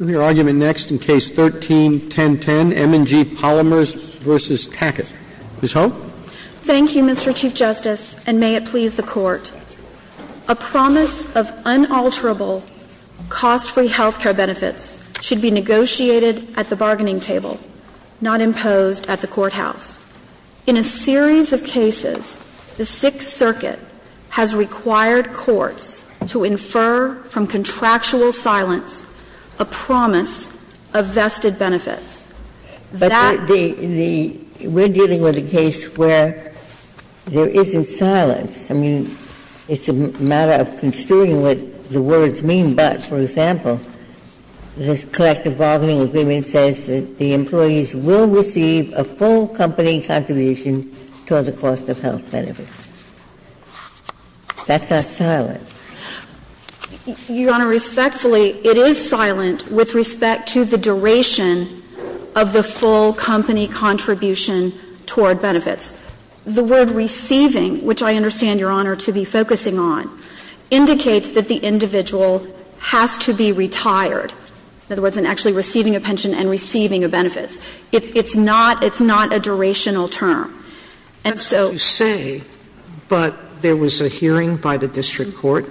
Your argument next in Case 13-1010, M&G Polymers v. Tackett. Ms. Ho? Thank you, Mr. Chief Justice, and may it please the Court. A promise of unalterable, cost-free health care benefits should be negotiated at the bargaining table, not imposed at the courthouse. In a series of cases, the Sixth Circuit has required courts to infer from contractual silence a promise of vested benefits. That the — But the — we're dealing with a case where there isn't silence. I mean, it's a matter of construing what the words mean. But, for example, this collective bargaining agreement says that the employees will receive a full company contribution toward the cost of health benefits. That's not silent. Your Honor, respectfully, it is silent with respect to the duration of the full company contribution toward benefits. The word receiving, which I understand, Your Honor, to be focusing on, indicates that the individual has to be retired, in other words, in actually receiving a pension and receiving a benefits. It's not — it's not a durational term. And so — That's what you say, but there was a hearing by the district court.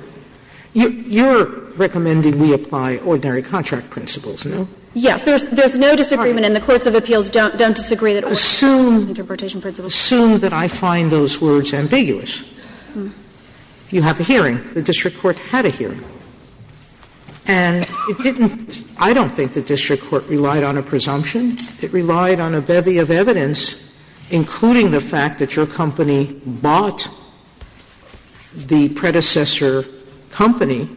You're recommending we apply ordinary contract principles, no? Yes. There's no disagreement, and the courts of appeals don't disagree that ordinary contract interpretation principles. Assume that I find those words ambiguous. You have a hearing. The district court had a hearing. And it didn't — I don't think the district court relied on a presumption. It relied on a bevy of evidence, including the fact that your company bought the predecessor company,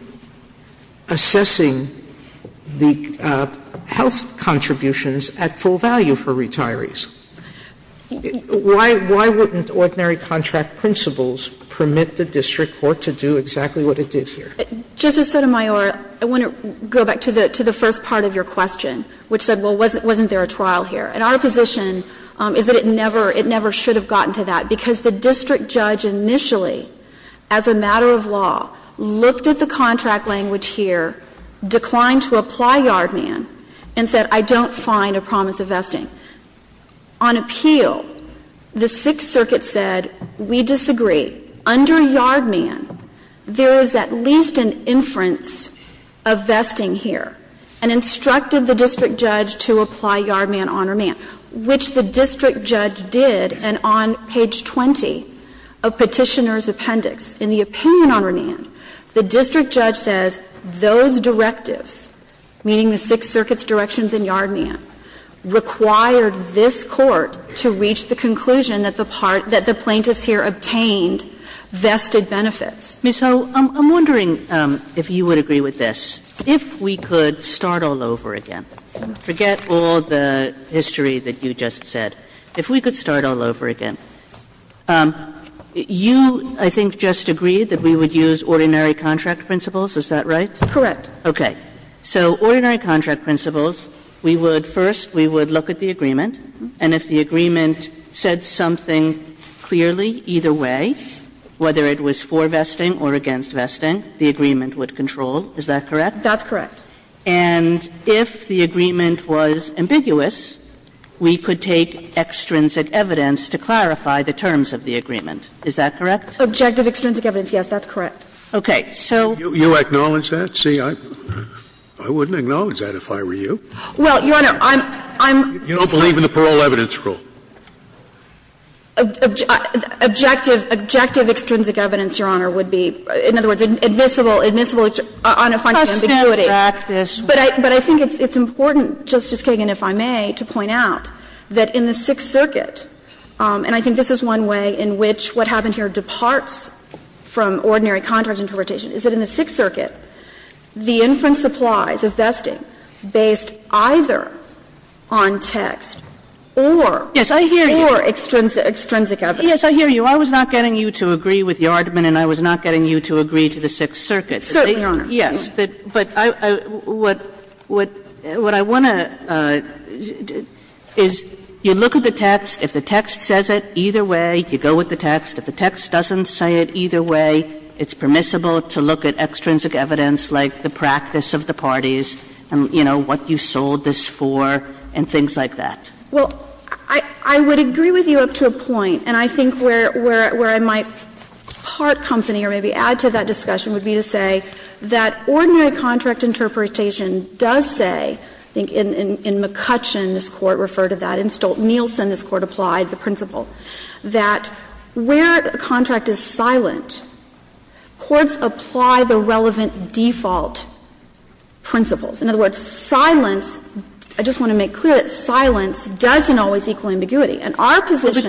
assessing the health contributions at full value for retirees. Why wouldn't ordinary contract principles permit the district court to do exactly what it did here? Justice Sotomayor, I want to go back to the first part of your question, which said, well, wasn't there a trial here? And our position is that it never — it never should have gotten to that, because the district judge initially, as a matter of law, looked at the contract language here, declined to apply yard man, and said, I don't find a promise of vesting. On appeal, the Sixth Circuit said, we disagree. Under yard man, there is at least an inference of vesting here, and instructed the district judge to apply yard man on remand, which the district judge did. And on page 20 of Petitioner's Appendix, in the opinion on remand, the district judge required this Court to reach the conclusion that the plaintiffs here obtained vested benefits. Ms. Ho, I'm wondering if you would agree with this. If we could start all over again. Forget all the history that you just said. If we could start all over again. You, I think, just agreed that we would use ordinary contract principles. Is that right? Correct. Okay. So ordinary contract principles, we would, first, we would look at the agreement, and if the agreement said something clearly, either way, whether it was for vesting or against vesting, the agreement would control. Is that correct? That's correct. And if the agreement was ambiguous, we could take extrinsic evidence to clarify the terms of the agreement. Is that correct? Objective extrinsic evidence, yes. That's correct. So. You acknowledge that? See, I wouldn't acknowledge that if I were you. Well, Your Honor, I'm, I'm. You don't believe in the parole evidence rule. Objective, objective extrinsic evidence, Your Honor, would be, in other words, admissible, admissible on a finding of ambiguity. But I think it's important, Justice Kagan, if I may, to point out that in the Sixth Circuit, and I think this is one way in which what happened here departs from ordinary contract interpretation, is that in the Sixth Circuit, the inference applies of vesting based either on text or. Yes, I hear you. Or extrinsic, extrinsic evidence. Yes, I hear you. I was not getting you to agree with Yardman and I was not getting you to agree to the Sixth Circuit. Certainly, Your Honor. Yes. But I, I, what, what, what I want to, is you look at the text. If the text says it, either way, you go with the text. If the text doesn't say it either way, it's permissible to look at extrinsic evidence like the practice of the parties and, you know, what you sold this for and things like that. Well, I, I would agree with you up to a point, and I think where, where, where I might part company or maybe add to that discussion would be to say that ordinary contract interpretation does say, I think in McCutcheon this Court referred to that, in Stolt-Nielsen this Court applied the principle that where a contract is silent, courts apply the relevant default principles. In other words, silence, I just want to make clear that silence doesn't always equal ambiguity. And our position is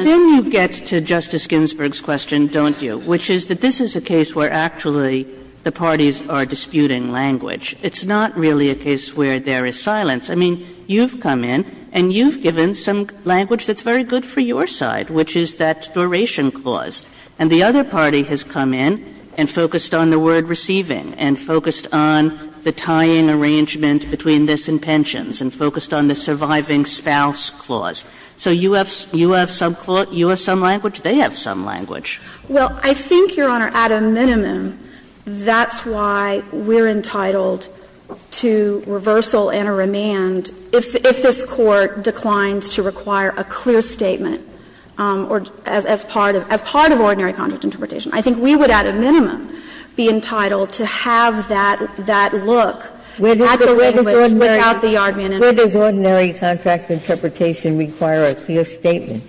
that this is a case where actually the parties are disputing language. It's not really a case where there is silence. I mean, you've come in, and you've given some language that's very good for your side, which is that duration clause. And the other party has come in and focused on the word receiving and focused on the tying arrangement between this and pensions and focused on the surviving spouse clause. So you have, you have some clause, you have some language, they have some language. Well, I think, Your Honor, at a minimum, that's why we're entitled to reversal and a remand if this Court declines to require a clear statement, or as part of ordinary contract interpretation. I think we would, at a minimum, be entitled to have that look at the language without the yard man. Ginsburg. Where does ordinary contract interpretation require a clear statement?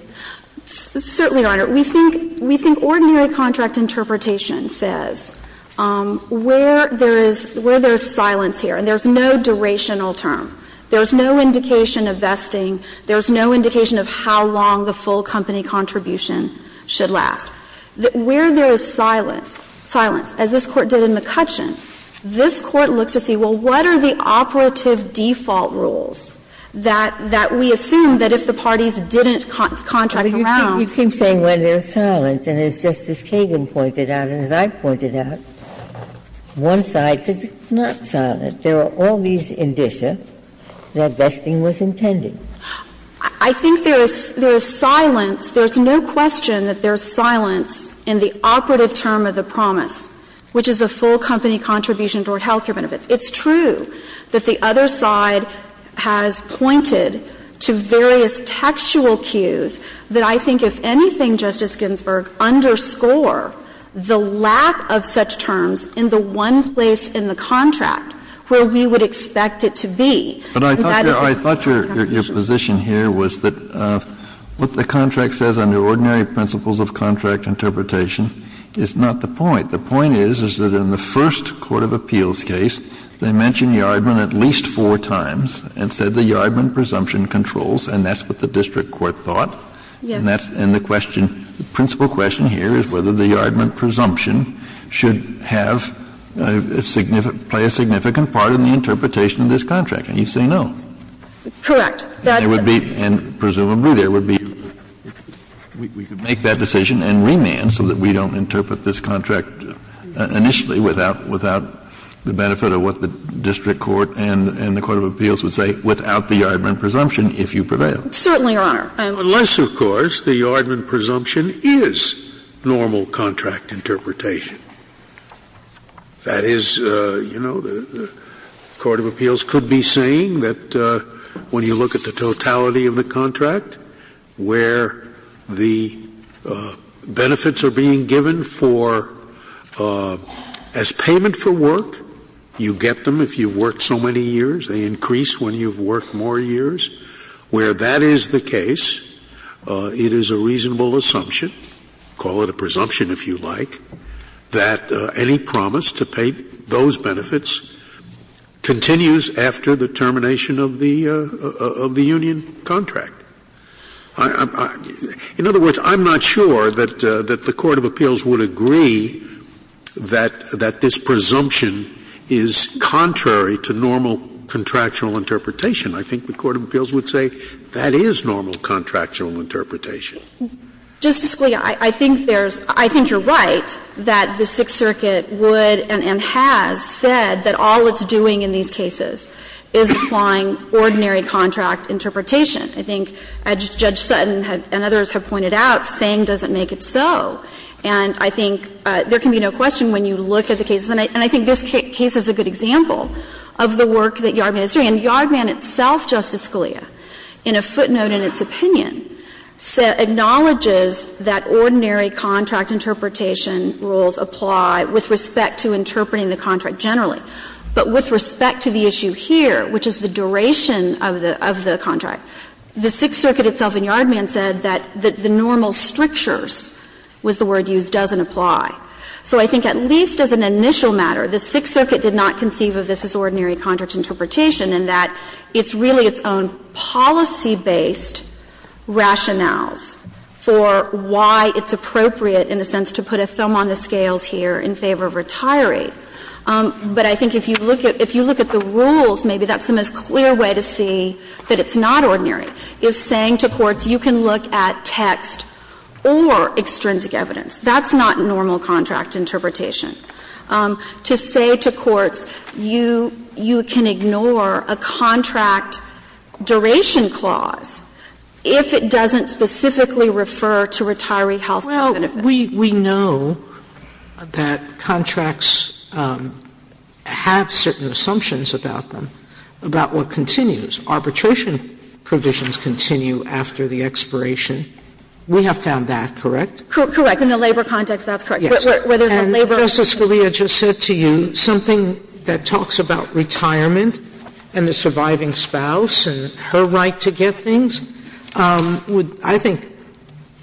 Certainly, Your Honor. We think ordinary contract interpretation says where there is silence here, and there is no indication of vesting, there is no indication of how long the full company contribution should last. Where there is silence, as this Court did in McCutcheon, this Court looks to see, well, what are the operative default rules that we assume that if the parties didn't contract around. Ginsburg. You keep saying where there is silence, and as Justice Kagan pointed out and as I pointed out, one side says it's not silent. There are all these indicia that vesting was intended. I think there is silence. There is no question that there is silence in the operative term of the promise, which is a full company contribution toward health care benefits. It's true that the other side has pointed to various textual cues that I think, if anything, Justice Ginsburg, underscore the lack of such terms in the one place in the contract where we would expect it to be. Kennedy. But I thought your position here was that what the contract says under ordinary principles of contract interpretation is not the point. The point is, is that in the first court of appeals case, they mentioned Yardman at least four times and said the Yardman presumption controls, and that's what the district court thought. And the question, the principal question here is whether the Yardman presumption should have a significant, play a significant part in the interpretation of this contract, and you say no. Correct. That would be, and presumably there would be, we could make that decision and remand so that we don't interpret this contract initially without, without the benefit of what the district court and the court of appeals would say without the Yardman presumption if you prevail. Certainly, Your Honor. Unless, of course, the Yardman presumption is normal contract interpretation. That is, you know, the court of appeals could be saying that when you look at the totality of the contract, where the benefits are being given for, as payment for work, you get them if you've worked so many years, they increase when you've worked more years, where that is the case, it is a reasonable assumption, call it a presumption if you like, that any promise to pay those benefits continues after the termination of the, of the union contract. In other words, I'm not sure that the court of appeals would agree that this presumption is contrary to normal contractual interpretation. I think the court of appeals would say that is normal contractual interpretation. Justice Scalia, I think there's, I think you're right that the Sixth Circuit would and has said that all it's doing in these cases is applying ordinary contract interpretation. I think, as Judge Sutton and others have pointed out, saying doesn't make it so. And I think there can be no question when you look at the cases, and I think this case is a good example of the work that Yardman is doing. And Yardman itself, Justice Scalia, in a footnote in its opinion, acknowledges that ordinary contract interpretation rules apply with respect to interpreting the contract generally. But with respect to the issue here, which is the duration of the, of the contract, the Sixth Circuit itself in Yardman said that the normal strictures, was the word used, doesn't apply. So I think at least as an initial matter, the Sixth Circuit did not conceive of this as ordinary contract interpretation, and that it's really its own policy-based rationales for why it's appropriate, in a sense, to put a thumb on the scales here in favor of retiree. But I think if you look at, if you look at the rules, maybe that's the most clear way to see that it's not ordinary, is saying to courts, you can look at text or extrinsic evidence. That's not normal contract interpretation. To say to courts, you, you can ignore a contract duration clause if it doesn't specifically refer to retiree health benefit. Sotomayor Well, we, we know that contracts have certain assumptions about them, about what continues. Arbitration provisions continue after the expiration. We have found that correct? Correct. Correct. In the labor context, that's correct. Yes. And Justice Scalia just said to you, something that talks about retirement and the surviving spouse and her right to get things, would, I think,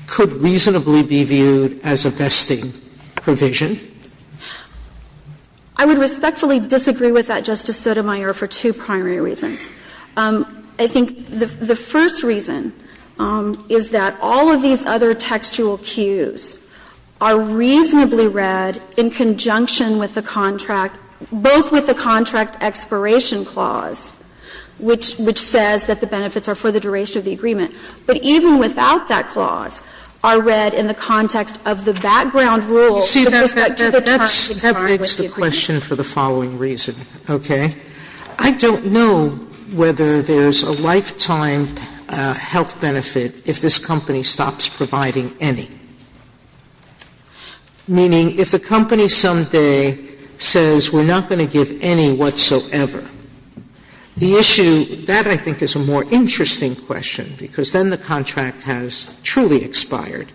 could reasonably be viewed as a vesting provision. I would respectfully disagree with that, Justice Sotomayor, for two primary reasons. I think the first reason is that all of these other textual cues are reasonably read in conjunction with the contract, both with the contract expiration clause, which, which says that the benefits are for the duration of the agreement. But even without that clause, are read in the context of the background rule to the Sotomayor You see, that, that, that begs the question for the following reason, okay? I don't know whether there's a lifetime health benefit if this company stops providing any. Meaning, if the company someday says, we're not going to give any whatsoever, the issue, that I think is a more interesting question, because then the contract has truly expired.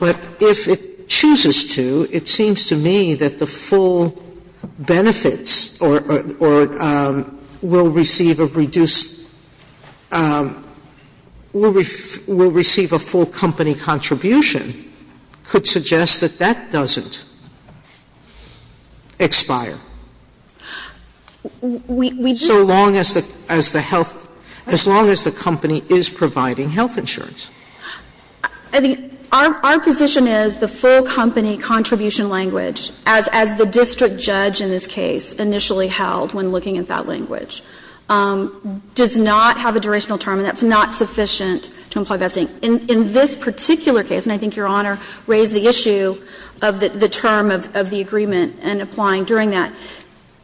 But if it chooses to, it seems to me that the full benefits or, or will receive a reduced, will receive a full company contribution could suggest that that doesn't expire. So long as the, as the health, as long as the company is providing health insurance. I think our, our position is the full company contribution language, as, as the district judge in this case initially held when looking at that language. Does not have a durational term, and that's not sufficient to imply best thing. In, in this particular case, and I think Your Honor raised the issue of the, the term of, of the agreement and applying during that.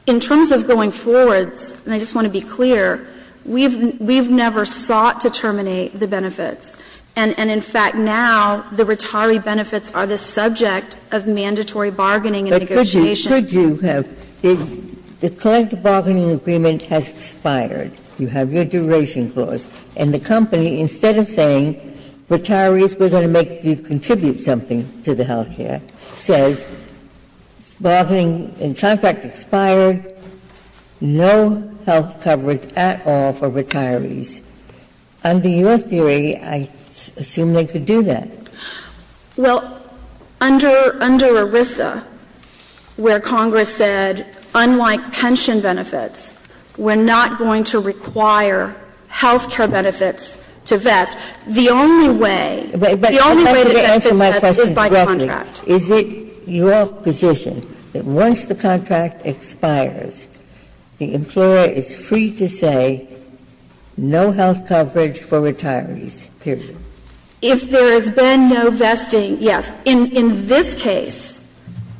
In terms of going forwards, and I just want to be clear, we've, we've never sought to terminate the benefits. And, and in fact, now the retiree benefits are the subject of mandatory bargaining and negotiation. Ginsburg's question is, should you have, the collective bargaining agreement has expired, you have your duration clause, and the company, instead of saying retirees, we're going to make you contribute something to the health care, says, bargaining and contract expired, no health coverage at all for retirees. Under your theory, I assume they could do that. Well, under, under ERISA, where Congress said, unlike pension benefits, we're not going to require health care benefits to vest, the only way, the only way to benefit is by contract. Ginsburg's question is, is it your position that once the contract expires, the employer is free to say no health coverage for retirees, period? If there has been no vesting, yes. In, in this case,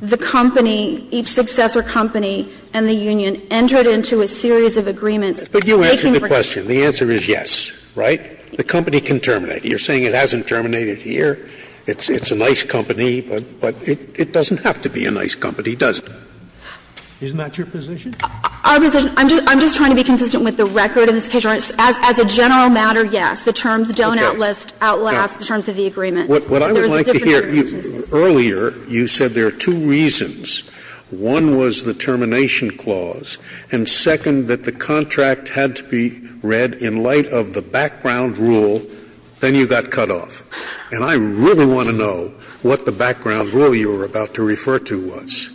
the company, each successor company and the union entered into a series of agreements that they can bring to the Court. But you answered the question. The answer is yes, right? The company can terminate. You're saying it hasn't terminated here. It's, it's a nice company, but, but it, it doesn't have to be a nice company, does it? Isn't that your position? Our position, I'm just, I'm just trying to be consistent with the record in this case. As, as a general matter, yes. The terms don't outlast, outlast the terms of the agreement. There is a difference in circumstances. What I would like to hear, earlier you said there are two reasons. One was the termination clause, and second, that the contract had to be read in light of the background rule, then you got cut off. And I really want to know what the background rule you were about to refer to was.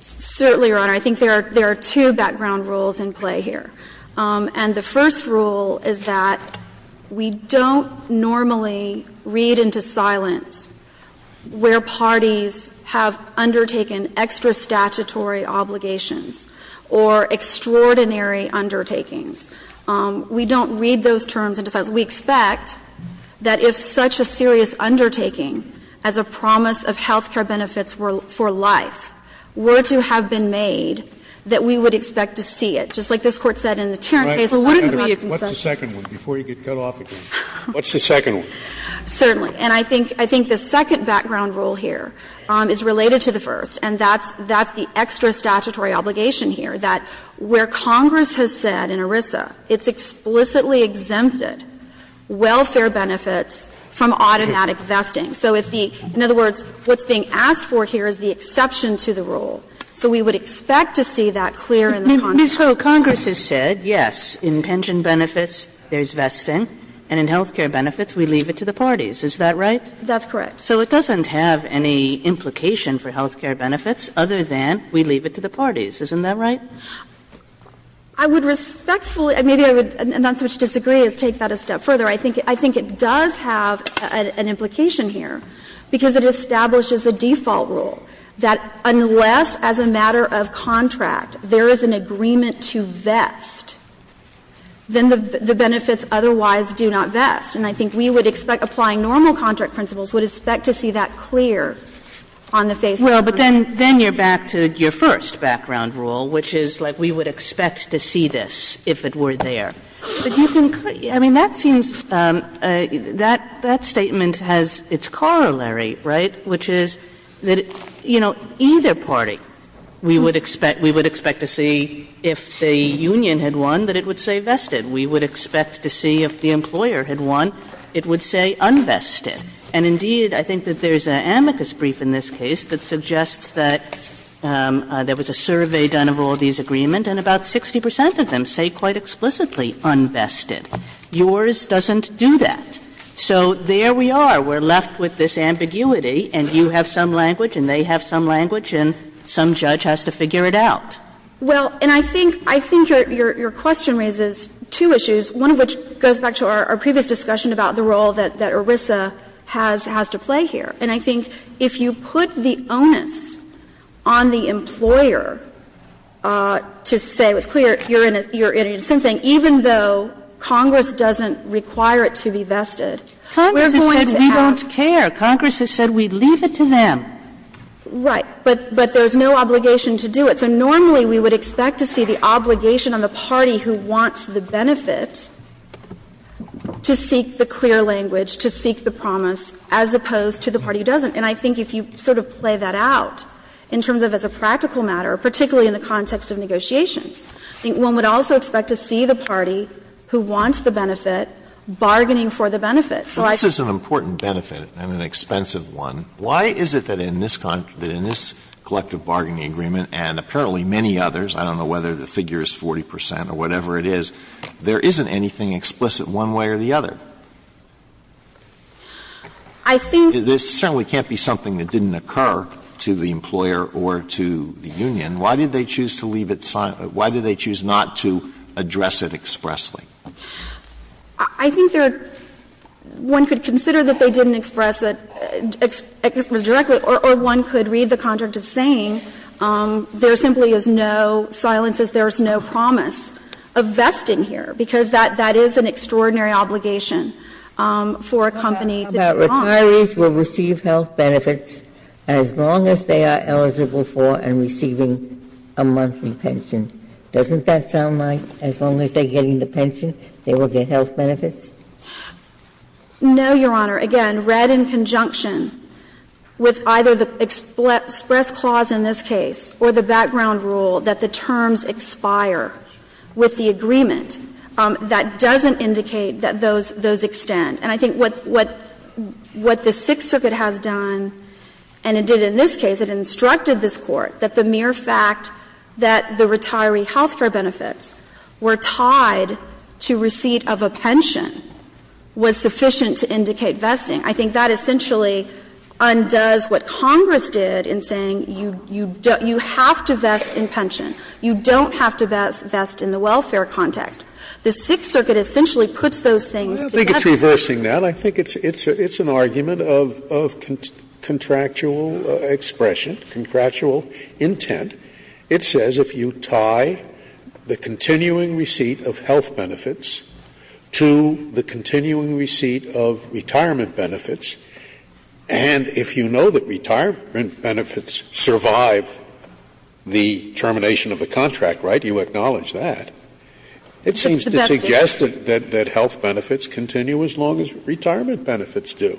Certainly, Your Honor. I think there are, there are two background rules in play here. And the first rule is that we don't normally read into silence where parties have undertaken extra statutory obligations or extraordinary undertakings. We don't read those terms into silence. We expect that if such a serious undertaking as a promise of health care benefits were, for life, were to have been made, that we would expect to see it. Just like this Court said in the Tarrant case. Sotomayor, what's the second one, before you get cut off again? What's the second one? Certainly. And I think, I think the second background rule here is related to the first, and that's, that's the extra statutory obligation here, that where Congress has said in ERISA it's explicitly exempted welfare benefits from automatic vesting. So if the, in other words, what's being asked for here is the exception to the rule. So we would expect to see that clear in the contract. Ms. Ho, Congress has said, yes, in pension benefits there's vesting, and in health care benefits we leave it to the parties, is that right? That's correct. So it doesn't have any implication for health care benefits other than we leave it to the parties, isn't that right? I would respectfully, maybe I would not so much disagree as take that a step further. I think, I think it does have an implication here, because it establishes a default rule that unless, as a matter of contract, there is an agreement to vest, then the benefits otherwise do not vest. And I think we would expect, applying normal contract principles, would expect to see that clear on the face of Congress. Well, but then, then you're back to your first background rule, which is like we would expect to see this if it were there. But you can, I mean, that seems, that, that statement has its corollary, right? Which is that, you know, either party, we would expect, we would expect to see if the union had won, that it would say vested. We would expect to see if the employer had won, it would say unvested. And indeed, I think that there's an amicus brief in this case that suggests that there was a survey done of all these agreements, and about 60 percent of them say quite explicitly unvested. Yours doesn't do that. So there we are. We're left with this ambiguity, and you have some language, and they have some language, and some judge has to figure it out. Well, and I think, I think your question raises two issues, one of which goes back to our previous discussion about the role that ERISA has, has to play here. And I think if you put the onus on the employer to say, it's clear, you're in a, you're in a sense saying even though Congress doesn't require it to be vested, we're going Sotomayor, you said we don't care. Congress has said we leave it to them. Right. But, but there's no obligation to do it. So normally we would expect to see the obligation on the party who wants the benefit to seek the clear language, to seek the promise, as opposed to the party who doesn't. And I think if you sort of play that out in terms of as a practical matter, particularly in the context of negotiations, I think one would also expect to see the party who wants the benefit bargaining for the benefit. So I think Alito This is an important benefit and an expensive one. Why is it that in this, that in this collective bargaining agreement and apparently many others, I don't know whether the figure is 40 percent or whatever it is, there isn't anything explicit one way or the other? I think Alito This certainly can't be something that didn't occur to the employer or to the union. Why did they choose to leave it, why did they choose not to address it expressly? I think there, one could consider that they didn't express it, express it directly, or one could read the contract as saying there simply is no silence, there is no promise of vesting here, because that is an extraordinary obligation for a company to do not. Ginsburg About retirees will receive health benefits as long as they are eligible for and receiving a monthly pension. Doesn't that sound like as long as they are getting the pension, they will get health benefits? Alito No, Your Honor. Again, read in conjunction with either the express clause in this case or the background rule that the terms expire with the agreement, that doesn't indicate that those extend. And I think what the Sixth Circuit has done, and it did in this case, it instructed this Court that the mere fact that the retiree health care benefits were tied to receipt of a pension was sufficient to indicate vesting. I think that essentially undoes what Congress did in saying you have to vest in pension. You don't have to vest in the welfare context. The Sixth Circuit essentially puts those things together. Scalia I don't think it's reversing that. But I think it's an argument of contractual expression, contractual intent. It says if you tie the continuing receipt of health benefits to the continuing receipt of retirement benefits, and if you know that retirement benefits survive the termination of a contract, right, you acknowledge that, it seems to suggest that health benefits continue as long as retirement benefits do.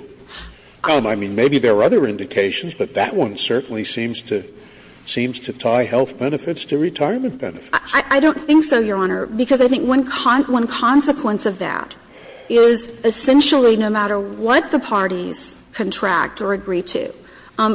I mean, maybe there are other indications, but that one certainly seems to tie health benefits to retirement benefits. I don't think so, Your Honor, because I think one consequence of that is essentially no matter what the parties contract or agree to,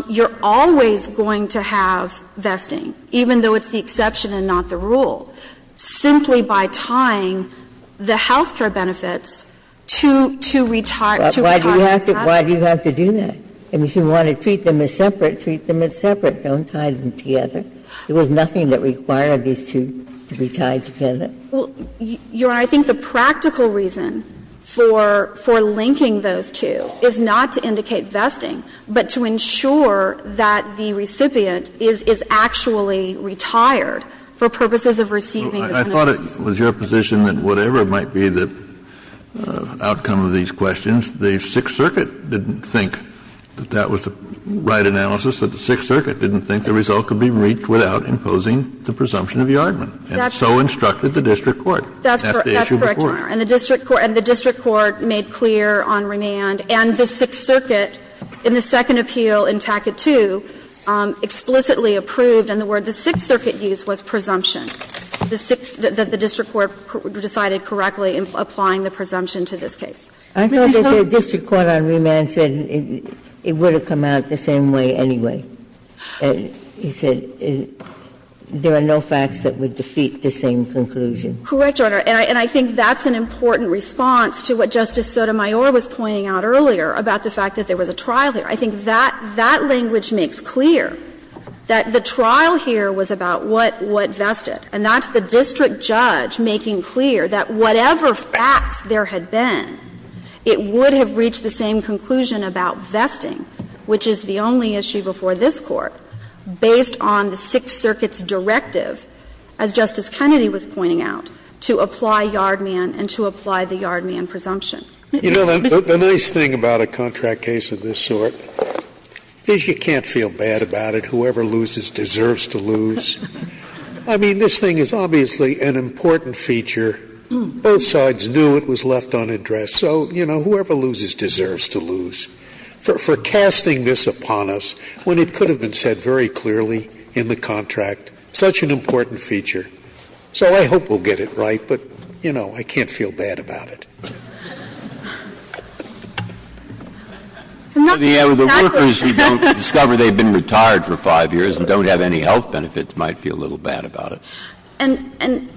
you're always going to have vesting, even though it's the exception and not the rule. Simply by tying the health care benefits to retire to retirement benefits. Ginsburg Why do you have to do that? If you want to treat them as separate, treat them as separate. Don't tie them together. There was nothing that required these two to be tied together. O'Connor Your Honor, I think the practical reason for linking those two is not to indicate vesting, but to ensure that the recipient is actually retired for purposes of receiving the benefits. Kennedy I thought it was your position that whatever might be the outcome of these questions, the Sixth Circuit didn't think that that was the right analysis, that the Sixth Circuit didn't think the result could be reached without imposing the presumption of yardman. And so instructed the district court. That's the issue of the court. O'Connor That's correct, Your Honor. And the district court made clear on remand, and the Sixth Circuit in the second appeal in Tackett 2 explicitly approved, and the word the Sixth Circuit used was presumption. The district court decided correctly in applying the presumption to this case. Ginsburg I thought that the district court on remand said it would have come out the same way anyway. He said there are no facts that would defeat the same conclusion. O'Connor Correct, Your Honor. And I think that's an important response to what Justice Sotomayor was pointing out earlier about the fact that there was a trial here. I think that language makes clear that the trial here was about what vested. And that's the district judge making clear that whatever facts there had been, it would have reached the same conclusion about vesting, which is the only issue before this Court, based on the Sixth Circuit's directive, as Justice Kennedy was pointing out, to apply yardman and to apply the yardman presumption. Scalia You know, the nice thing about a contract case of this sort is you can't feel bad about it. Whoever loses deserves to lose. I mean, this thing is obviously an important feature. Both sides knew it was left unaddressed. So, you know, whoever loses deserves to lose. For casting this upon us when it could have been said very clearly in the contract, such an important feature. So I hope we'll get it right, but, you know, I can't feel bad about it. Breyer The workers who don't discover they've been retired for 5 years and don't have any health benefits might feel a little bad about it. I'm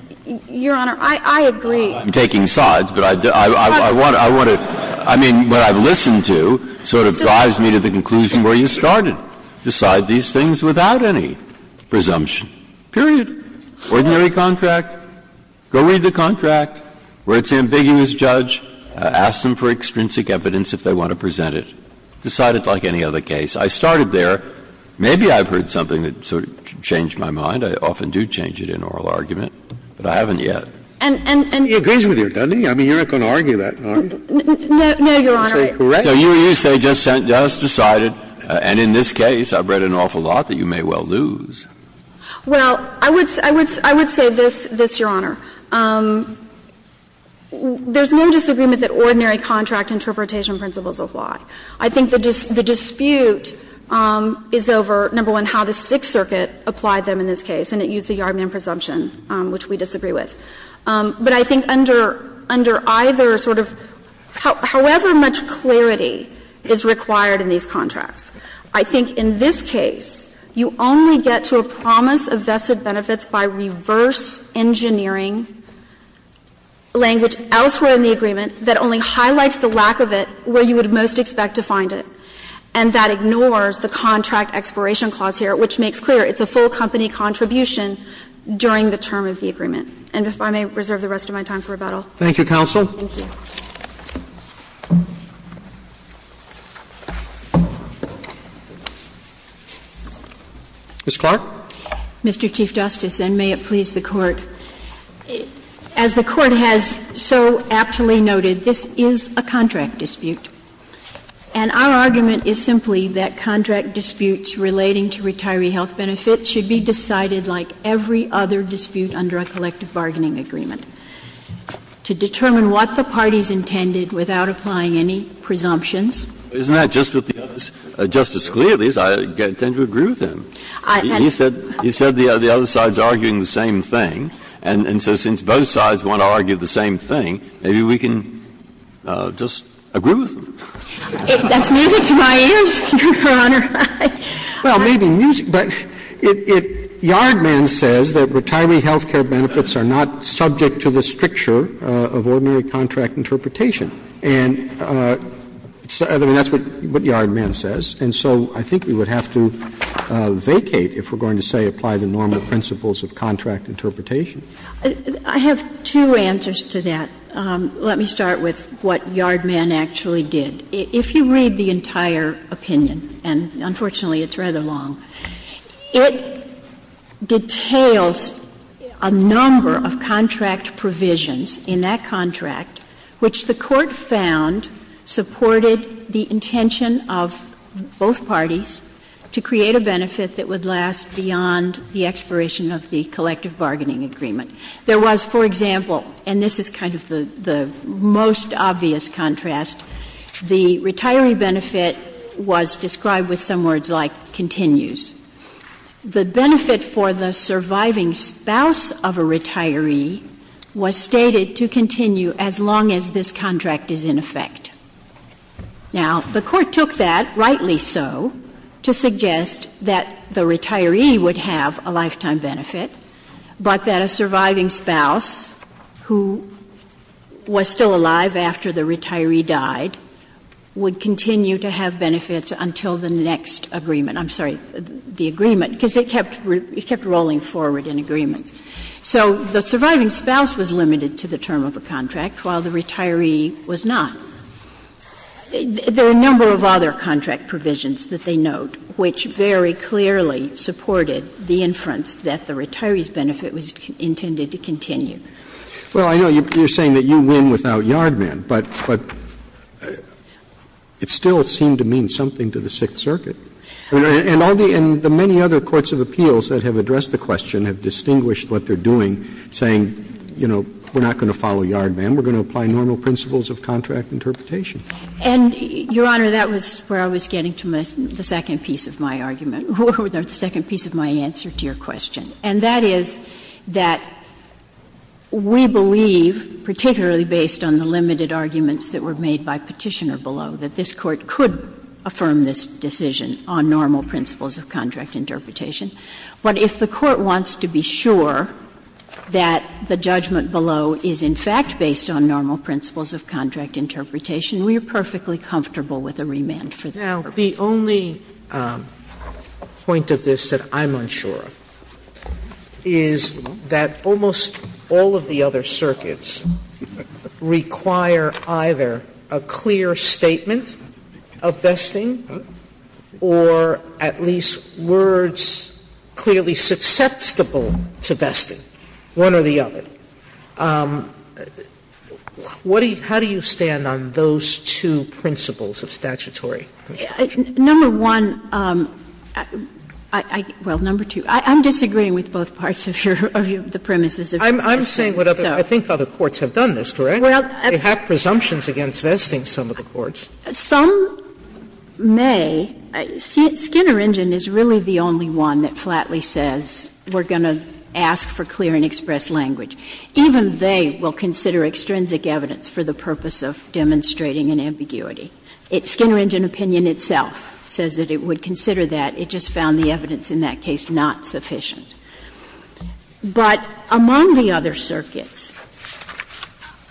taking sides, but I want to, I mean, what I've listened to sort of drives me to the conclusion where you started, decide these things without any presumption, period. Ordinary contract, go read the contract, where it's ambiguous, judge, ask them for extrinsic evidence if they want to present it, decide it like any other case. I started there. Maybe I've heard something that sort of changed my mind. I often do change it in oral argument, but I haven't yet. And, and, and. Scalia He agrees with you, doesn't he? I mean, you're not going to argue that, are you? No, Your Honor. Scalia So you say just decided, and in this case, I've read an awful lot, that you may well lose. Well, I would say this, Your Honor. There's no disagreement that ordinary contract interpretation principles apply. I think the dispute is over, number one, how the Sixth Circuit applied them in this case, and it used the Yardman presumption, which we disagree with. But I think under, under either sort of, however much clarity is required in these contracts, I think in this case, you only get to a promise of vested benefits by reverse engineering language elsewhere in the agreement that only highlights the lack of it where you would most expect to find it. And that ignores the contract expiration clause here, which makes clear it's a full company contribution during the term of the agreement. And if I may reserve the rest of my time for rebuttal. Roberts Thank you, counsel. Ms. Clark. Clark Mr. Chief Justice, and may it please the Court. As the Court has so aptly noted, this is a contract dispute. And our argument is simply that contract disputes relating to retiree health benefits should be decided like every other dispute under a collective bargaining agreement. To determine what the parties intended without applying any presumptions. Breyer Isn't that just what the others, Justice Scalia, at least, I tend to agree with him. He said the other side is arguing the same thing. And so since both sides want to argue the same thing, maybe we can just agree with them. Clark That's music to my ears, Your Honor. Roberts Well, maybe music, but it, Yardman says that retiree health care benefits are not subject to the stricture of ordinary contract interpretation. And that's what Yardman says. And so I think we would have to vacate if we're going to, say, apply the normal principles of contract interpretation. Sotomayor I have two answers to that. Let me start with what Yardman actually did. If you read the entire opinion, and unfortunately it's rather long, it details a number of contract provisions in that contract, which the Court found supported the intention of both parties to create a benefit that would last beyond the expiration of the collective bargaining agreement. There was, for example, and this is kind of the most obvious contrast, the retiree benefit was described with some words like continues. The benefit for the surviving spouse of a retiree was stated to continue as long as this contract is in effect. Now, the Court took that, rightly so, to suggest that the retiree would have a lifetime benefit, but that a surviving spouse who was still alive after the retiree died would continue to have benefits until the next agreement. I'm sorry, the agreement, because it kept rolling forward in agreements. So the surviving spouse was limited to the term of the contract while the retiree was not. There are a number of other contract provisions that they note which very clearly supported the inference that the retiree's benefit was intended to continue. Roberts. Well, I know you're saying that you win without Yardman, but it still seemed to mean something to the Sixth Circuit. And all the other courts of appeals that have addressed the question have distinguished what they're doing, saying, you know, we're not going to follow Yardman, we're going to apply normal principles of contract interpretation. And, Your Honor, that was where I was getting to the second piece of my argument, or the second piece of my answer to your question. And that is that we believe, particularly based on the limited arguments that were made by Petitioner below, that this Court could affirm this decision on normal principles of contract interpretation. But if the Court wants to be sure that the judgment below is in fact based on normal principles of contract interpretation, we are perfectly comfortable with a remand for that purpose. Sotomayor, the only point of this that I'm unsure of is that almost all of the other circuits require either a clear statement of vesting or at least words clearly susceptible to vesting, one or the other. What do you – how do you stand on those two principles of statutory contract? Number one, I – well, number two, I'm disagreeing with both parts of your – of the premises of your question. Sotomayor, I'm saying what other – I think other courts have done this, correct? Well, I think they have presumptions against vesting, some of the courts. Some may. Skinner Engine is really the only one that flatly says we're going to ask for clear and express language. Even they will consider extrinsic evidence for the purpose of demonstrating an ambiguity. Skinner Engine opinion itself says that it would consider that. It just found the evidence in that case not sufficient. But among the other circuits,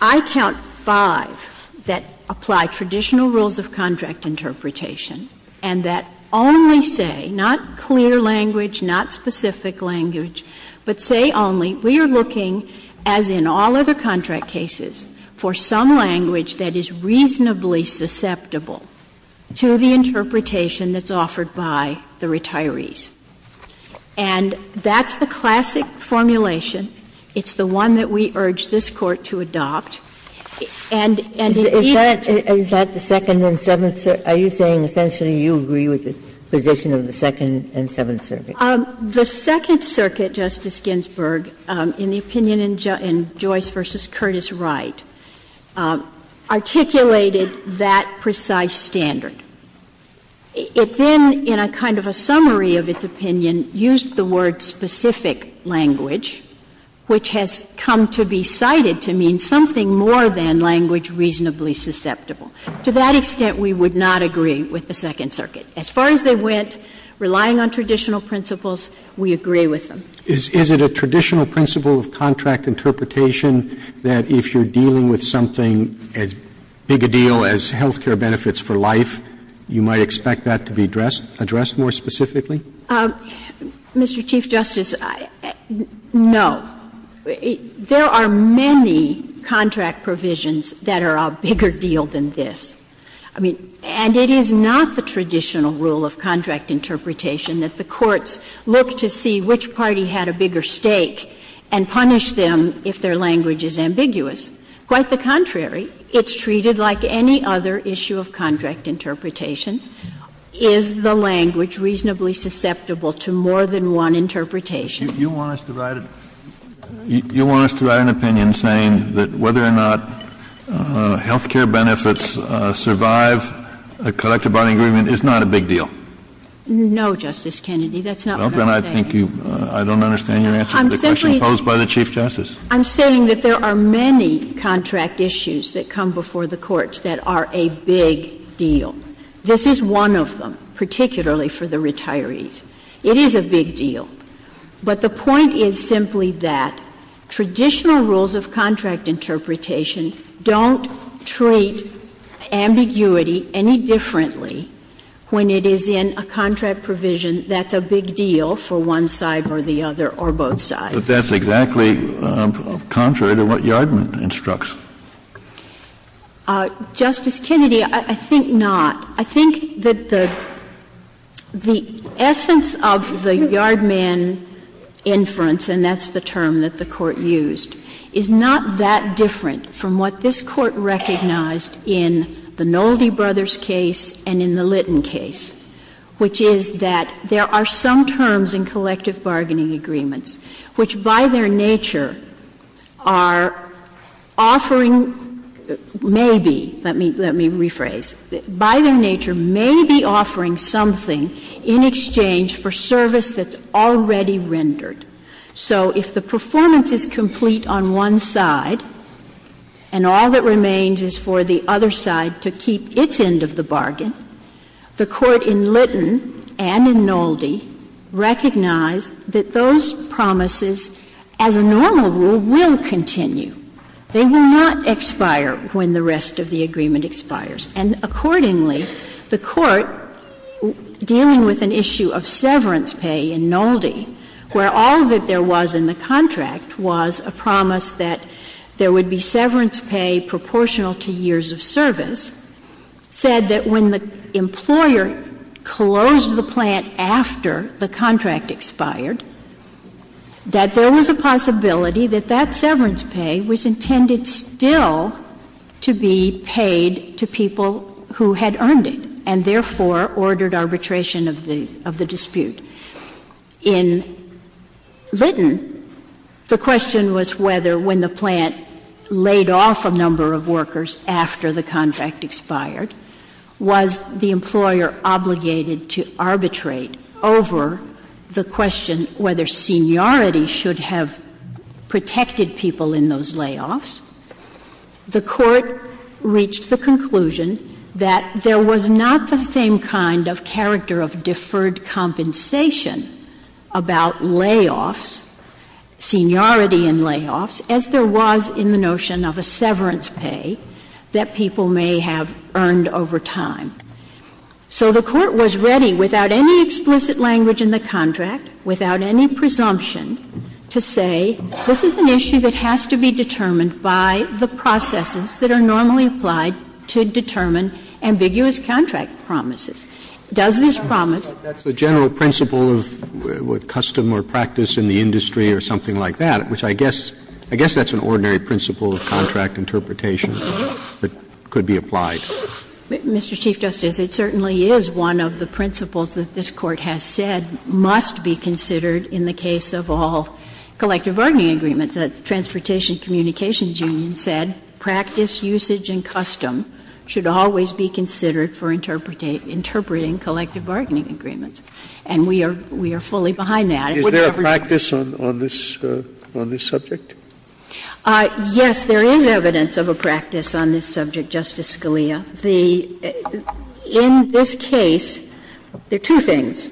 I count five that apply traditional rules of contract interpretation and that only say, not clear language, not specific language, but say only we are looking, as in all other contract cases, for some language that is reasonably susceptible to the interpretation that's offered by the retirees. And that's the classic formulation. It's the one that we urge this Court to adopt. And indeed, it's a – Is that the Second and Seventh – are you saying essentially you agree with the position of the Second and Seventh Circuit? The Second Circuit, Justice Ginsburg, in the opinion in Joyce v. Curtis Wright, articulated that precise standard. It then, in a kind of a summary of its opinion, used the word specific language, which has come to be cited to mean something more than language reasonably susceptible. To that extent, we would not agree with the Second Circuit. As far as they went, relying on traditional principles, we agree with them. If you're dealing with something as big a deal as health care benefits for life, you might expect that to be addressed more specifically? Mr. Chief Justice, no. There are many contract provisions that are a bigger deal than this. I mean, and it is not the traditional rule of contract interpretation that the courts look to see which party had a bigger stake and punish them if their language is ambiguous. Quite the contrary. It's treated like any other issue of contract interpretation. Is the language reasonably susceptible to more than one interpretation? You want us to write an opinion saying that whether or not health care benefits survive the collective bargaining agreement is not a big deal? No, Justice Kennedy, that's not what I'm saying. Well, then I think you – I don't understand your answer to the question posed by the Chief Justice. I'm saying that there are many contract issues that come before the courts that are a big deal. This is one of them, particularly for the retirees. It is a big deal. But the point is simply that traditional rules of contract interpretation don't treat ambiguity any differently when it is in a contract provision that's a big deal for one side or the other or both sides. But that's exactly contrary to what Yardman instructs. Justice Kennedy, I think not. I think that the essence of the Yardman inference, and that's the term that the Court used, is not that different from what this Court recognized in the Nolde brothers' case and in the Litton case, which is that there are some terms in collective bargaining agreements which, by their nature, are offering – maybe, let me rephrase – by their nature may be offering something in exchange for service that's already rendered. So if the performance is complete on one side and all that remains is for the other side to keep its end of the bargain, the Court in Litton and in Nolde recognized that those promises, as a normal rule, will continue. They will not expire when the rest of the agreement expires. And accordingly, the Court, dealing with an issue of severance pay in Nolde, where all that there was in the contract was a promise that there would be severance pay proportional to years of service, said that when the employer closed the plant after the contract expired, that there was a possibility that that severance pay was intended still to be paid to people who had earned it, and therefore ordered arbitration of the dispute. In Litton, the question was whether, when the plant laid off a number of workers after the contract expired, was the employer obligated to arbitrate over the question whether seniority should have protected people in those layoffs. The Court reached the conclusion that there was not the same kind of character of deferred compensation about layoffs, seniority in layoffs, as there was in the notion of a severance pay that people may have earned over time. So the Court was ready, without any explicit language in the contract, without any presumption, to say this is an issue that has to be determined by the processes that are normally applied to determine ambiguous contract promises. Does this promise the contract promises? Or is there a general principle of custom or practice in the industry or something like that, which I guess that's an ordinary principle of contract interpretation that could be applied? Mr. Chief Justice, it certainly is one of the principles that this Court has said must be considered in the case of all collective bargaining agreements. The Transportation Communications Union said practice, usage, and custom should always be considered for interpreting collective bargaining agreements. And we are fully behind that. Scalia, is there a practice on this subject? Yes, there is evidence of a practice on this subject, Justice Scalia. In this case, there are two things.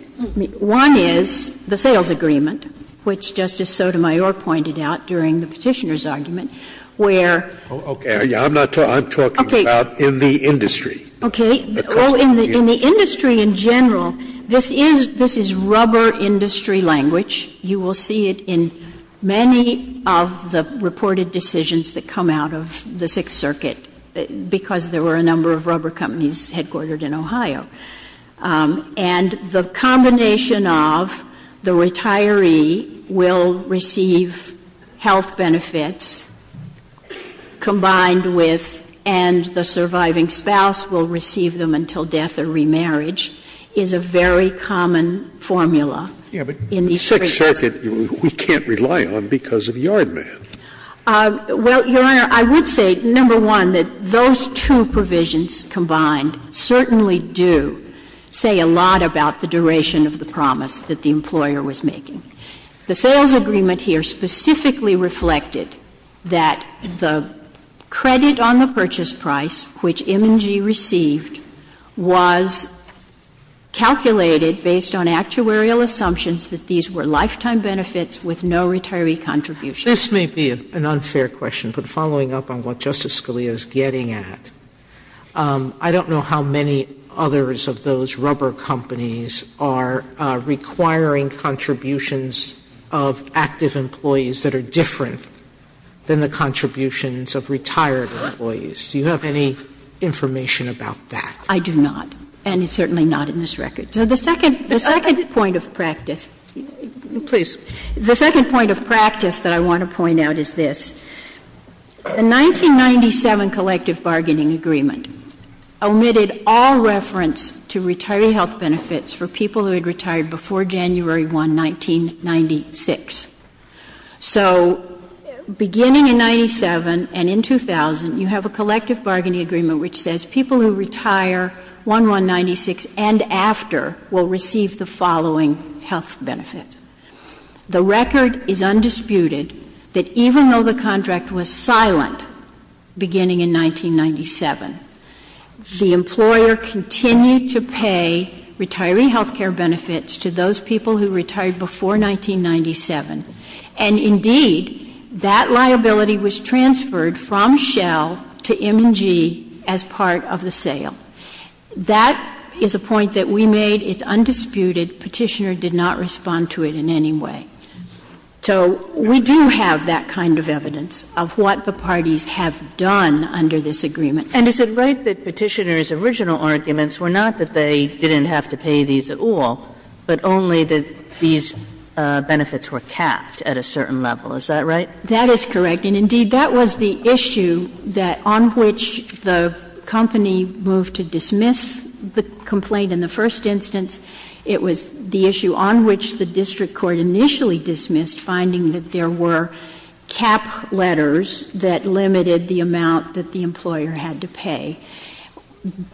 One is the sales agreement, which Justice Sotomayor pointed out during the Petitioner's argument, where. Okay. I'm not talking about in the industry. Okay. In the industry in general, this is rubber industry language. You will see it in many of the reported decisions that come out of the Sixth Circuit because there were a number of rubber companies headquartered in Ohio. Combined with, and the surviving spouse will receive them until death or remarriage, is a very common formula in these cases. Yes, but the Sixth Circuit, we can't rely on because of yard man. Well, Your Honor, I would say, number one, that those two provisions combined certainly do say a lot about the duration of the promise that the employer was making. The sales agreement here specifically reflected that the credit on the purchase price, which M&G received, was calculated based on actuarial assumptions that these were lifetime benefits with no retiree contribution. This may be an unfair question, but following up on what Justice Scalia is getting at, I don't know how many others of those rubber companies are requiring contributions of active employees that are different than the contributions of retired employees. Do you have any information about that? I do not, and certainly not in this record. So the second point of practice. Please. The second point of practice that I want to point out is this. The 1997 collective bargaining agreement omitted all reference to retiree health benefits for people who had retired before January 1, 1996. So beginning in 97 and in 2000, you have a collective bargaining agreement which says people who retire 1-1-96 and after will receive the following health benefit. The record is undisputed that even though the contract was silent beginning in 1997, the employer continued to pay retiree health care benefits to those people who retired before 1997. And indeed, that liability was transferred from Shell to M&G as part of the sale. That is a point that we made. It's undisputed. Petitioner did not respond to it in any way. So we do have that kind of evidence of what the parties have done under this agreement. And is it right that Petitioner's original arguments were not that they didn't have to pay these at all, but only that these benefits were capped at a certain level? Is that right? That is correct. And indeed, that was the issue that on which the company moved to dismiss the complaint in the first instance. It was the issue on which the district court initially dismissed, finding that there were cap letters that limited the amount that the employer had to pay.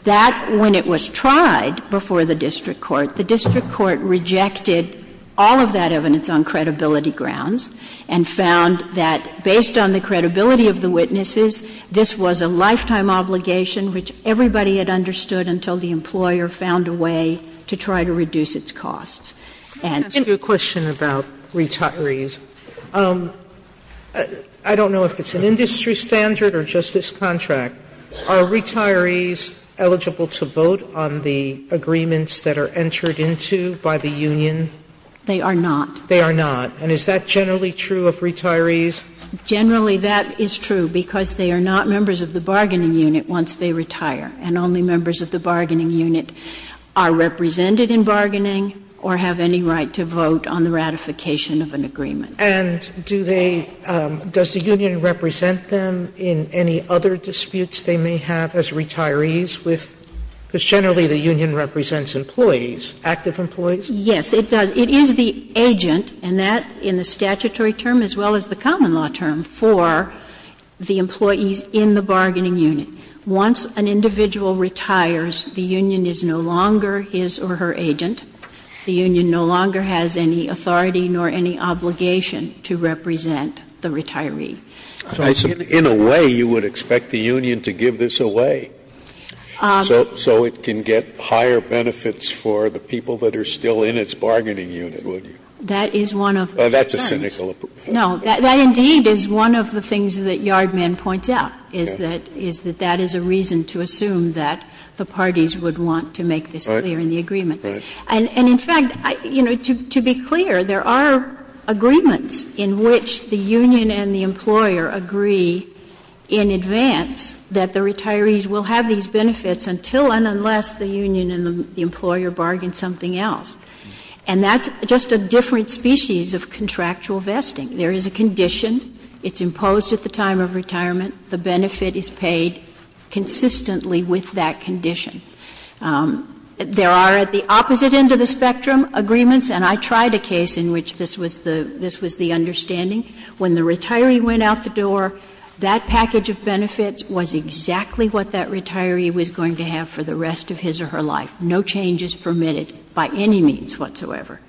That, when it was tried before the district court, the district court rejected all of that evidence on credibility grounds and found that based on the credibility of the witnesses, this was a lifetime obligation which everybody had understood until the employer found a way to try to reduce its costs. And to the question about retirees, I don't know if it's an industry standard or just this contract. Are retirees eligible to vote on the agreements that are entered into by the union? They are not. They are not. And is that generally true of retirees? Generally, that is true because they are not members of the bargaining unit once they retire, and only members of the bargaining unit are represented in bargaining or have any right to vote on the ratification of an agreement. And do they – does the union represent them in any other disputes they may have as retirees with – because generally the union represents employees, active employees? Yes, it does. It is the agent, and that in the statutory term as well as the common law term, for the employees in the bargaining unit. Once an individual retires, the union is no longer his or her agent. The union no longer has any authority nor any obligation to represent the retiree. In a way, you would expect the union to give this away so it can get higher benefits for the people that are still in its bargaining unit, would you? That is one of the concerns. That's a cynical approach. No, that indeed is one of the things that Yardmen points out, is that that is a reason to assume that the parties would want to make this clear in the agreement. And in fact, you know, to be clear, there are agreements in which the union and the employer agree in advance that the retirees will have these benefits until and unless the union and the employer bargain something else. And that's just a different species of contractual vesting. There is a condition. It's imposed at the time of retirement. The benefit is paid consistently with that condition. There are, at the opposite end of the spectrum, agreements, and I tried a case in which this was the understanding, when the retiree went out the door, that package of benefits was exactly what that retiree was going to have for the rest of his or her life, no changes permitted by any means whatsoever.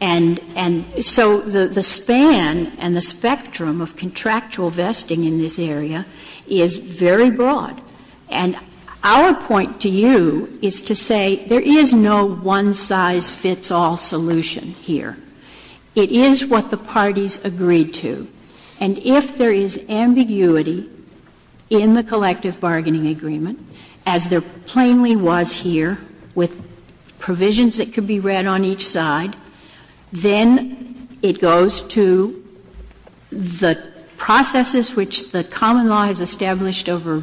And so the span and the spectrum of contractual vesting in this area is very broad. And our point to you is to say there is no one-size-fits-all solution here. It is what the parties agreed to. And if there is ambiguity in the collective bargaining agreement, as there plainly was here, with provisions that could be read on each side, then it goes to the processes which the common law has established over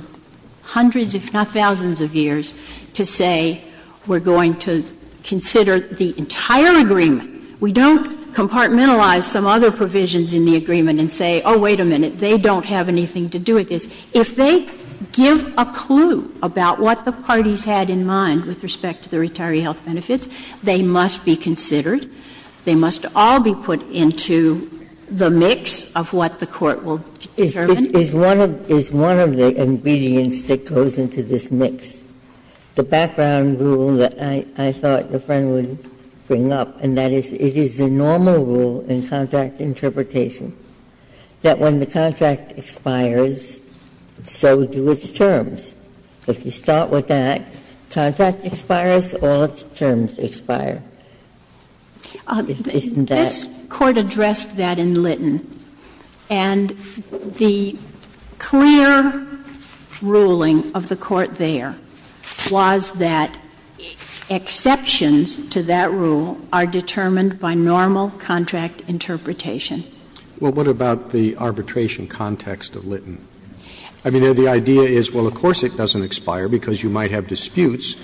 hundreds, if not thousands, of years to say we're going to consider the entire agreement. We don't compartmentalize some other provisions in the agreement and say, oh, wait a minute, they don't have anything to do with this. If they give a clue about what the parties had in mind with respect to the retiree health benefits, they must be considered. They must all be put into the mix of what the Court will determine. Ginsburg's is one of the ingredients that goes into this mix. The background rule that I thought the Friend would bring up, and that is it is the normal rule in contract interpretation that when the contract expires, so do its terms. If you start with that, contract expires, all its terms expire. Isn't that? This Court addressed that in Litton. And the clear ruling of the Court there was that exceptions to that rule are determined by normal contract interpretation. Well, what about the arbitration context of Litton? I mean, the idea is, well, of course it doesn't expire because you might have disputes,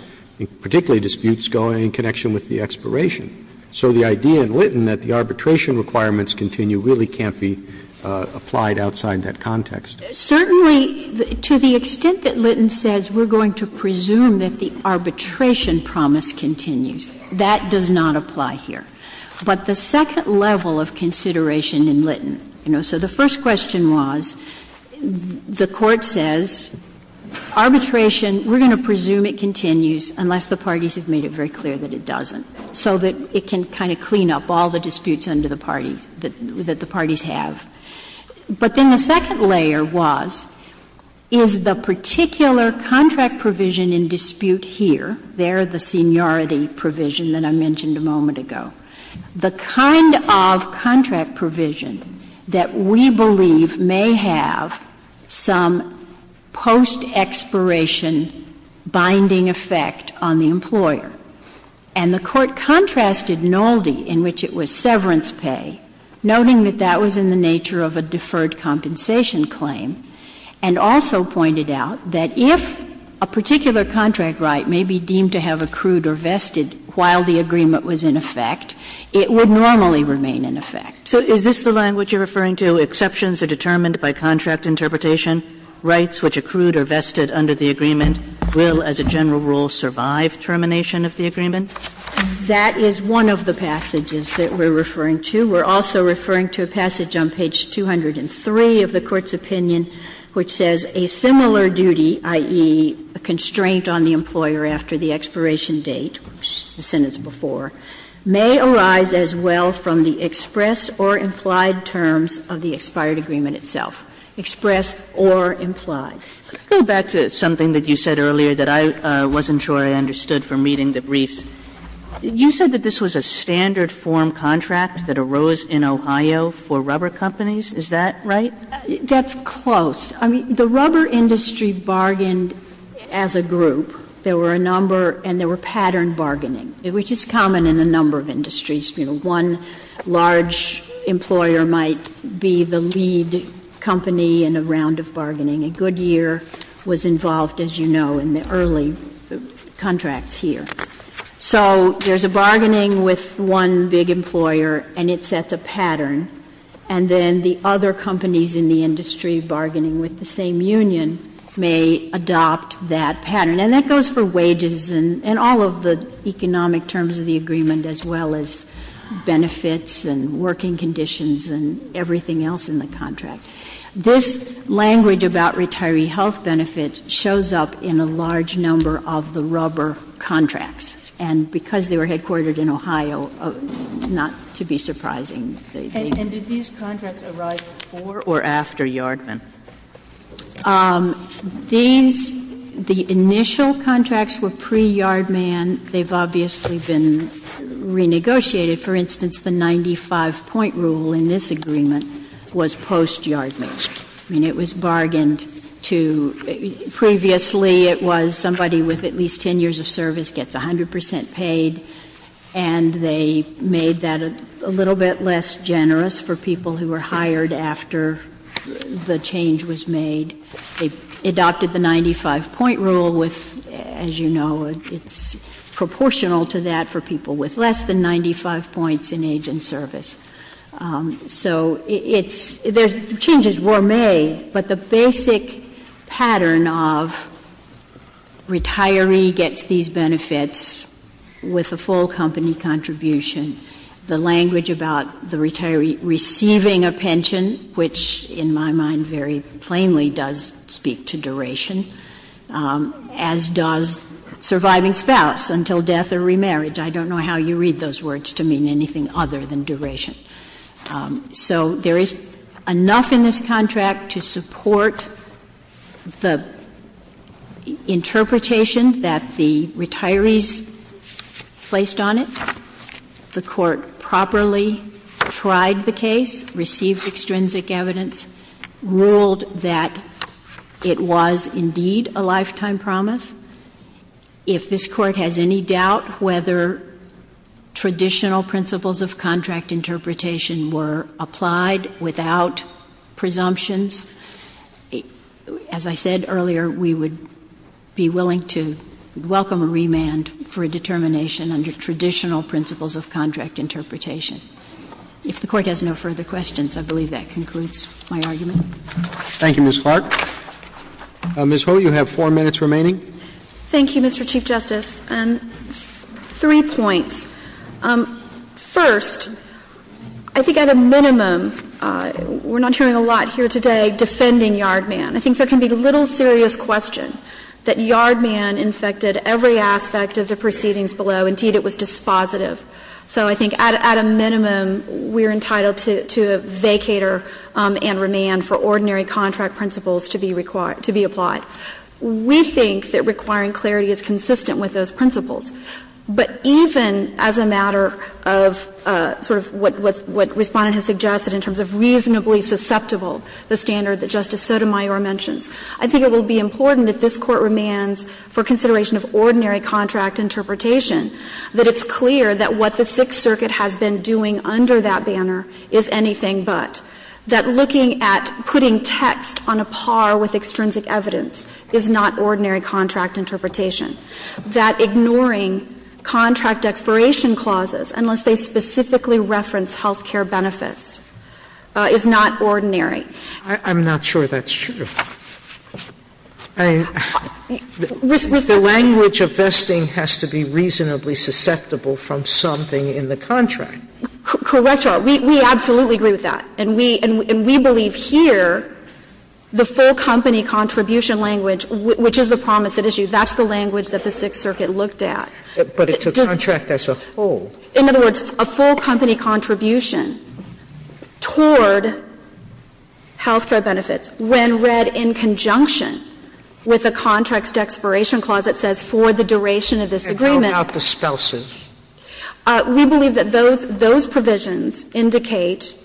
particularly disputes going in connection with the expiration. So the idea in Litton that the arbitration requirements continue really can't be applied outside that context. Certainly, to the extent that Litton says we're going to presume that the arbitration promise continues, that does not apply here. But the second level of consideration in Litton, you know, so the first question was, the Court says arbitration, we're going to presume it continues unless the parties have made it very clear that it doesn't, so that it can kind of clean up all the disputes under the parties, that the parties have. But then the second layer was, is the particular contract provision in dispute here, there the seniority provision that I mentioned a moment ago, the kind of contract provision that we believe may have some post-expiration binding effect on the employer. And the Court contrasted Nolde, in which it was severance pay, noting that that was in the nature of a deferred compensation claim, and also pointed out that if a particular contract right may be deemed to have accrued or vested while the agreement was in effect, it would normally remain in effect. Kagan. So is this the language you're referring to, exceptions are determined by contract interpretation, rights which accrued or vested under the agreement will, as a general rule, survive termination of the agreement? That is one of the passages that we're referring to. We're also referring to a passage on page 203 of the Court's opinion, which says a similar duty, i.e., a constraint on the employer after the expiration date, which the sentence before, may arise as well from the express or implied terms of the expired agreement itself, express or implied. Kagan. Sotomayor, could I go back to something that you said earlier that I wasn't sure I understood from reading the briefs? You said that this was a standard form contract that arose in Ohio for rubber companies. Is that right? That's close. I mean, the rubber industry bargained as a group. There were a number and there were patterned bargaining, which is common in a number of industries. You know, one large employer might be the lead company in a round of bargaining. Goodyear was involved, as you know, in the early contracts here. So there's a bargaining with one big employer and it sets a pattern, and then the other companies in the industry bargaining with the same union may adopt that pattern. And that goes for wages and all of the economic terms of the agreement, as well as benefits and working conditions and everything else in the contract. This language about retiree health benefits shows up in a large number of the rubber contracts, and because they were headquartered in Ohio, not to be surprising. And did these contracts arrive before or after Yardman? These, the initial contracts were pre-Yardman. They've obviously been renegotiated. For instance, the 95-point rule in this agreement was post-Yardman. I mean, it was bargained to previously it was somebody with at least 10 years of service gets 100 percent paid, and they made that a little bit less generous for people who were hired after the change was made. They adopted the 95-point rule with, as you know, it's proportional to that for people with less than 95 points in age and service. So it's, the change is gourmet, but the basic pattern of retiree gets these benefits with a full company contribution. The language about the retiree receiving a pension, which in my mind very plainly does speak to duration, as does surviving spouse until death or remarriage. I don't know how you read those words to mean anything other than duration. So there is enough in this contract to support the interpretation that the retiree has a lifetime promise. There are no boundaries placed on it. The Court properly tried the case, received extrinsic evidence, ruled that it was indeed a lifetime promise. If this Court has any doubt whether traditional principles of contract interpretation were applied without presumptions, as I said earlier, we would be willing to welcome a remand for a determination under traditional principles of contract interpretation. If the Court has no further questions, I believe that concludes my argument. Roberts. Thank you, Ms. Clark. Ms. Ho, you have four minutes remaining. Thank you, Mr. Chief Justice. Three points. First, I think at a minimum, we're not hearing a lot here today defending Yardman. I think there can be little serious question that Yardman infected every aspect of the proceedings below. Indeed, it was dispositive. So I think at a minimum, we're entitled to a vacator and remand for ordinary contract principles to be applied. We think that requiring clarity is consistent with those principles. But even as a matter of sort of what Respondent has suggested in terms of reasonably susceptible, the standard that Justice Sotomayor mentions, I think it will be important if this Court remands for consideration of ordinary contract interpretation that it's clear that what the Sixth Circuit has been doing under that banner is anything but, that looking at putting text on a par with extrinsic evidence is not ordinary contract interpretation, that ignoring contract expiration clauses, unless they specifically reference health care benefits, is not ordinary. I'm not sure that's true. I mean, the language of vesting has to be reasonably susceptible from something in the contract. Correct, Your Honor. We absolutely agree with that. And we believe here the full company contribution language, which is the promise at issue, that's the language that the Sixth Circuit looked at. But it's a contract as a whole. In other words, a full company contribution toward health care benefits when read in conjunction with a contract's expiration clause that says for the duration of this agreement. And how about dispels it? We believe that those provisions indicate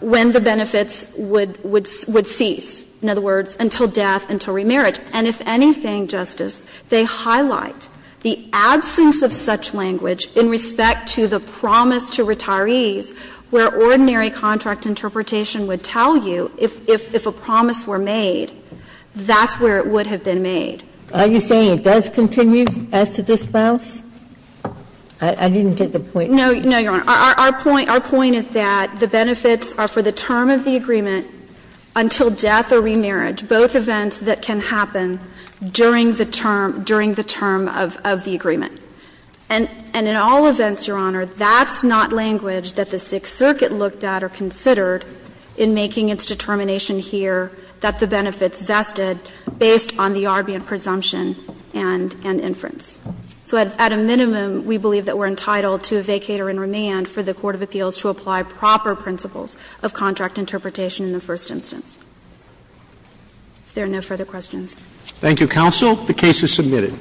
when the benefits would cease. In other words, until death, until remerit. And if anything, Justice, they highlight the absence of such language in respect to the promise to retirees where ordinary contract interpretation would tell you if a promise were made, that's where it would have been made. Are you saying it does continue as to dispels? I didn't get the point. No, Your Honor. Our point is that the benefits are for the term of the agreement until death or remerit, both events that can happen during the term of the agreement. And in all events, Your Honor, that's not language that the Sixth Circuit looked at or considered in making its determination here that the benefits vested based on the Arbian presumption and inference. So at a minimum, we believe that we're entitled to a vacator in remand for the court of appeals to apply proper principles of contract interpretation in the first instance. If there are no further questions. Thank you, counsel. The case is submitted.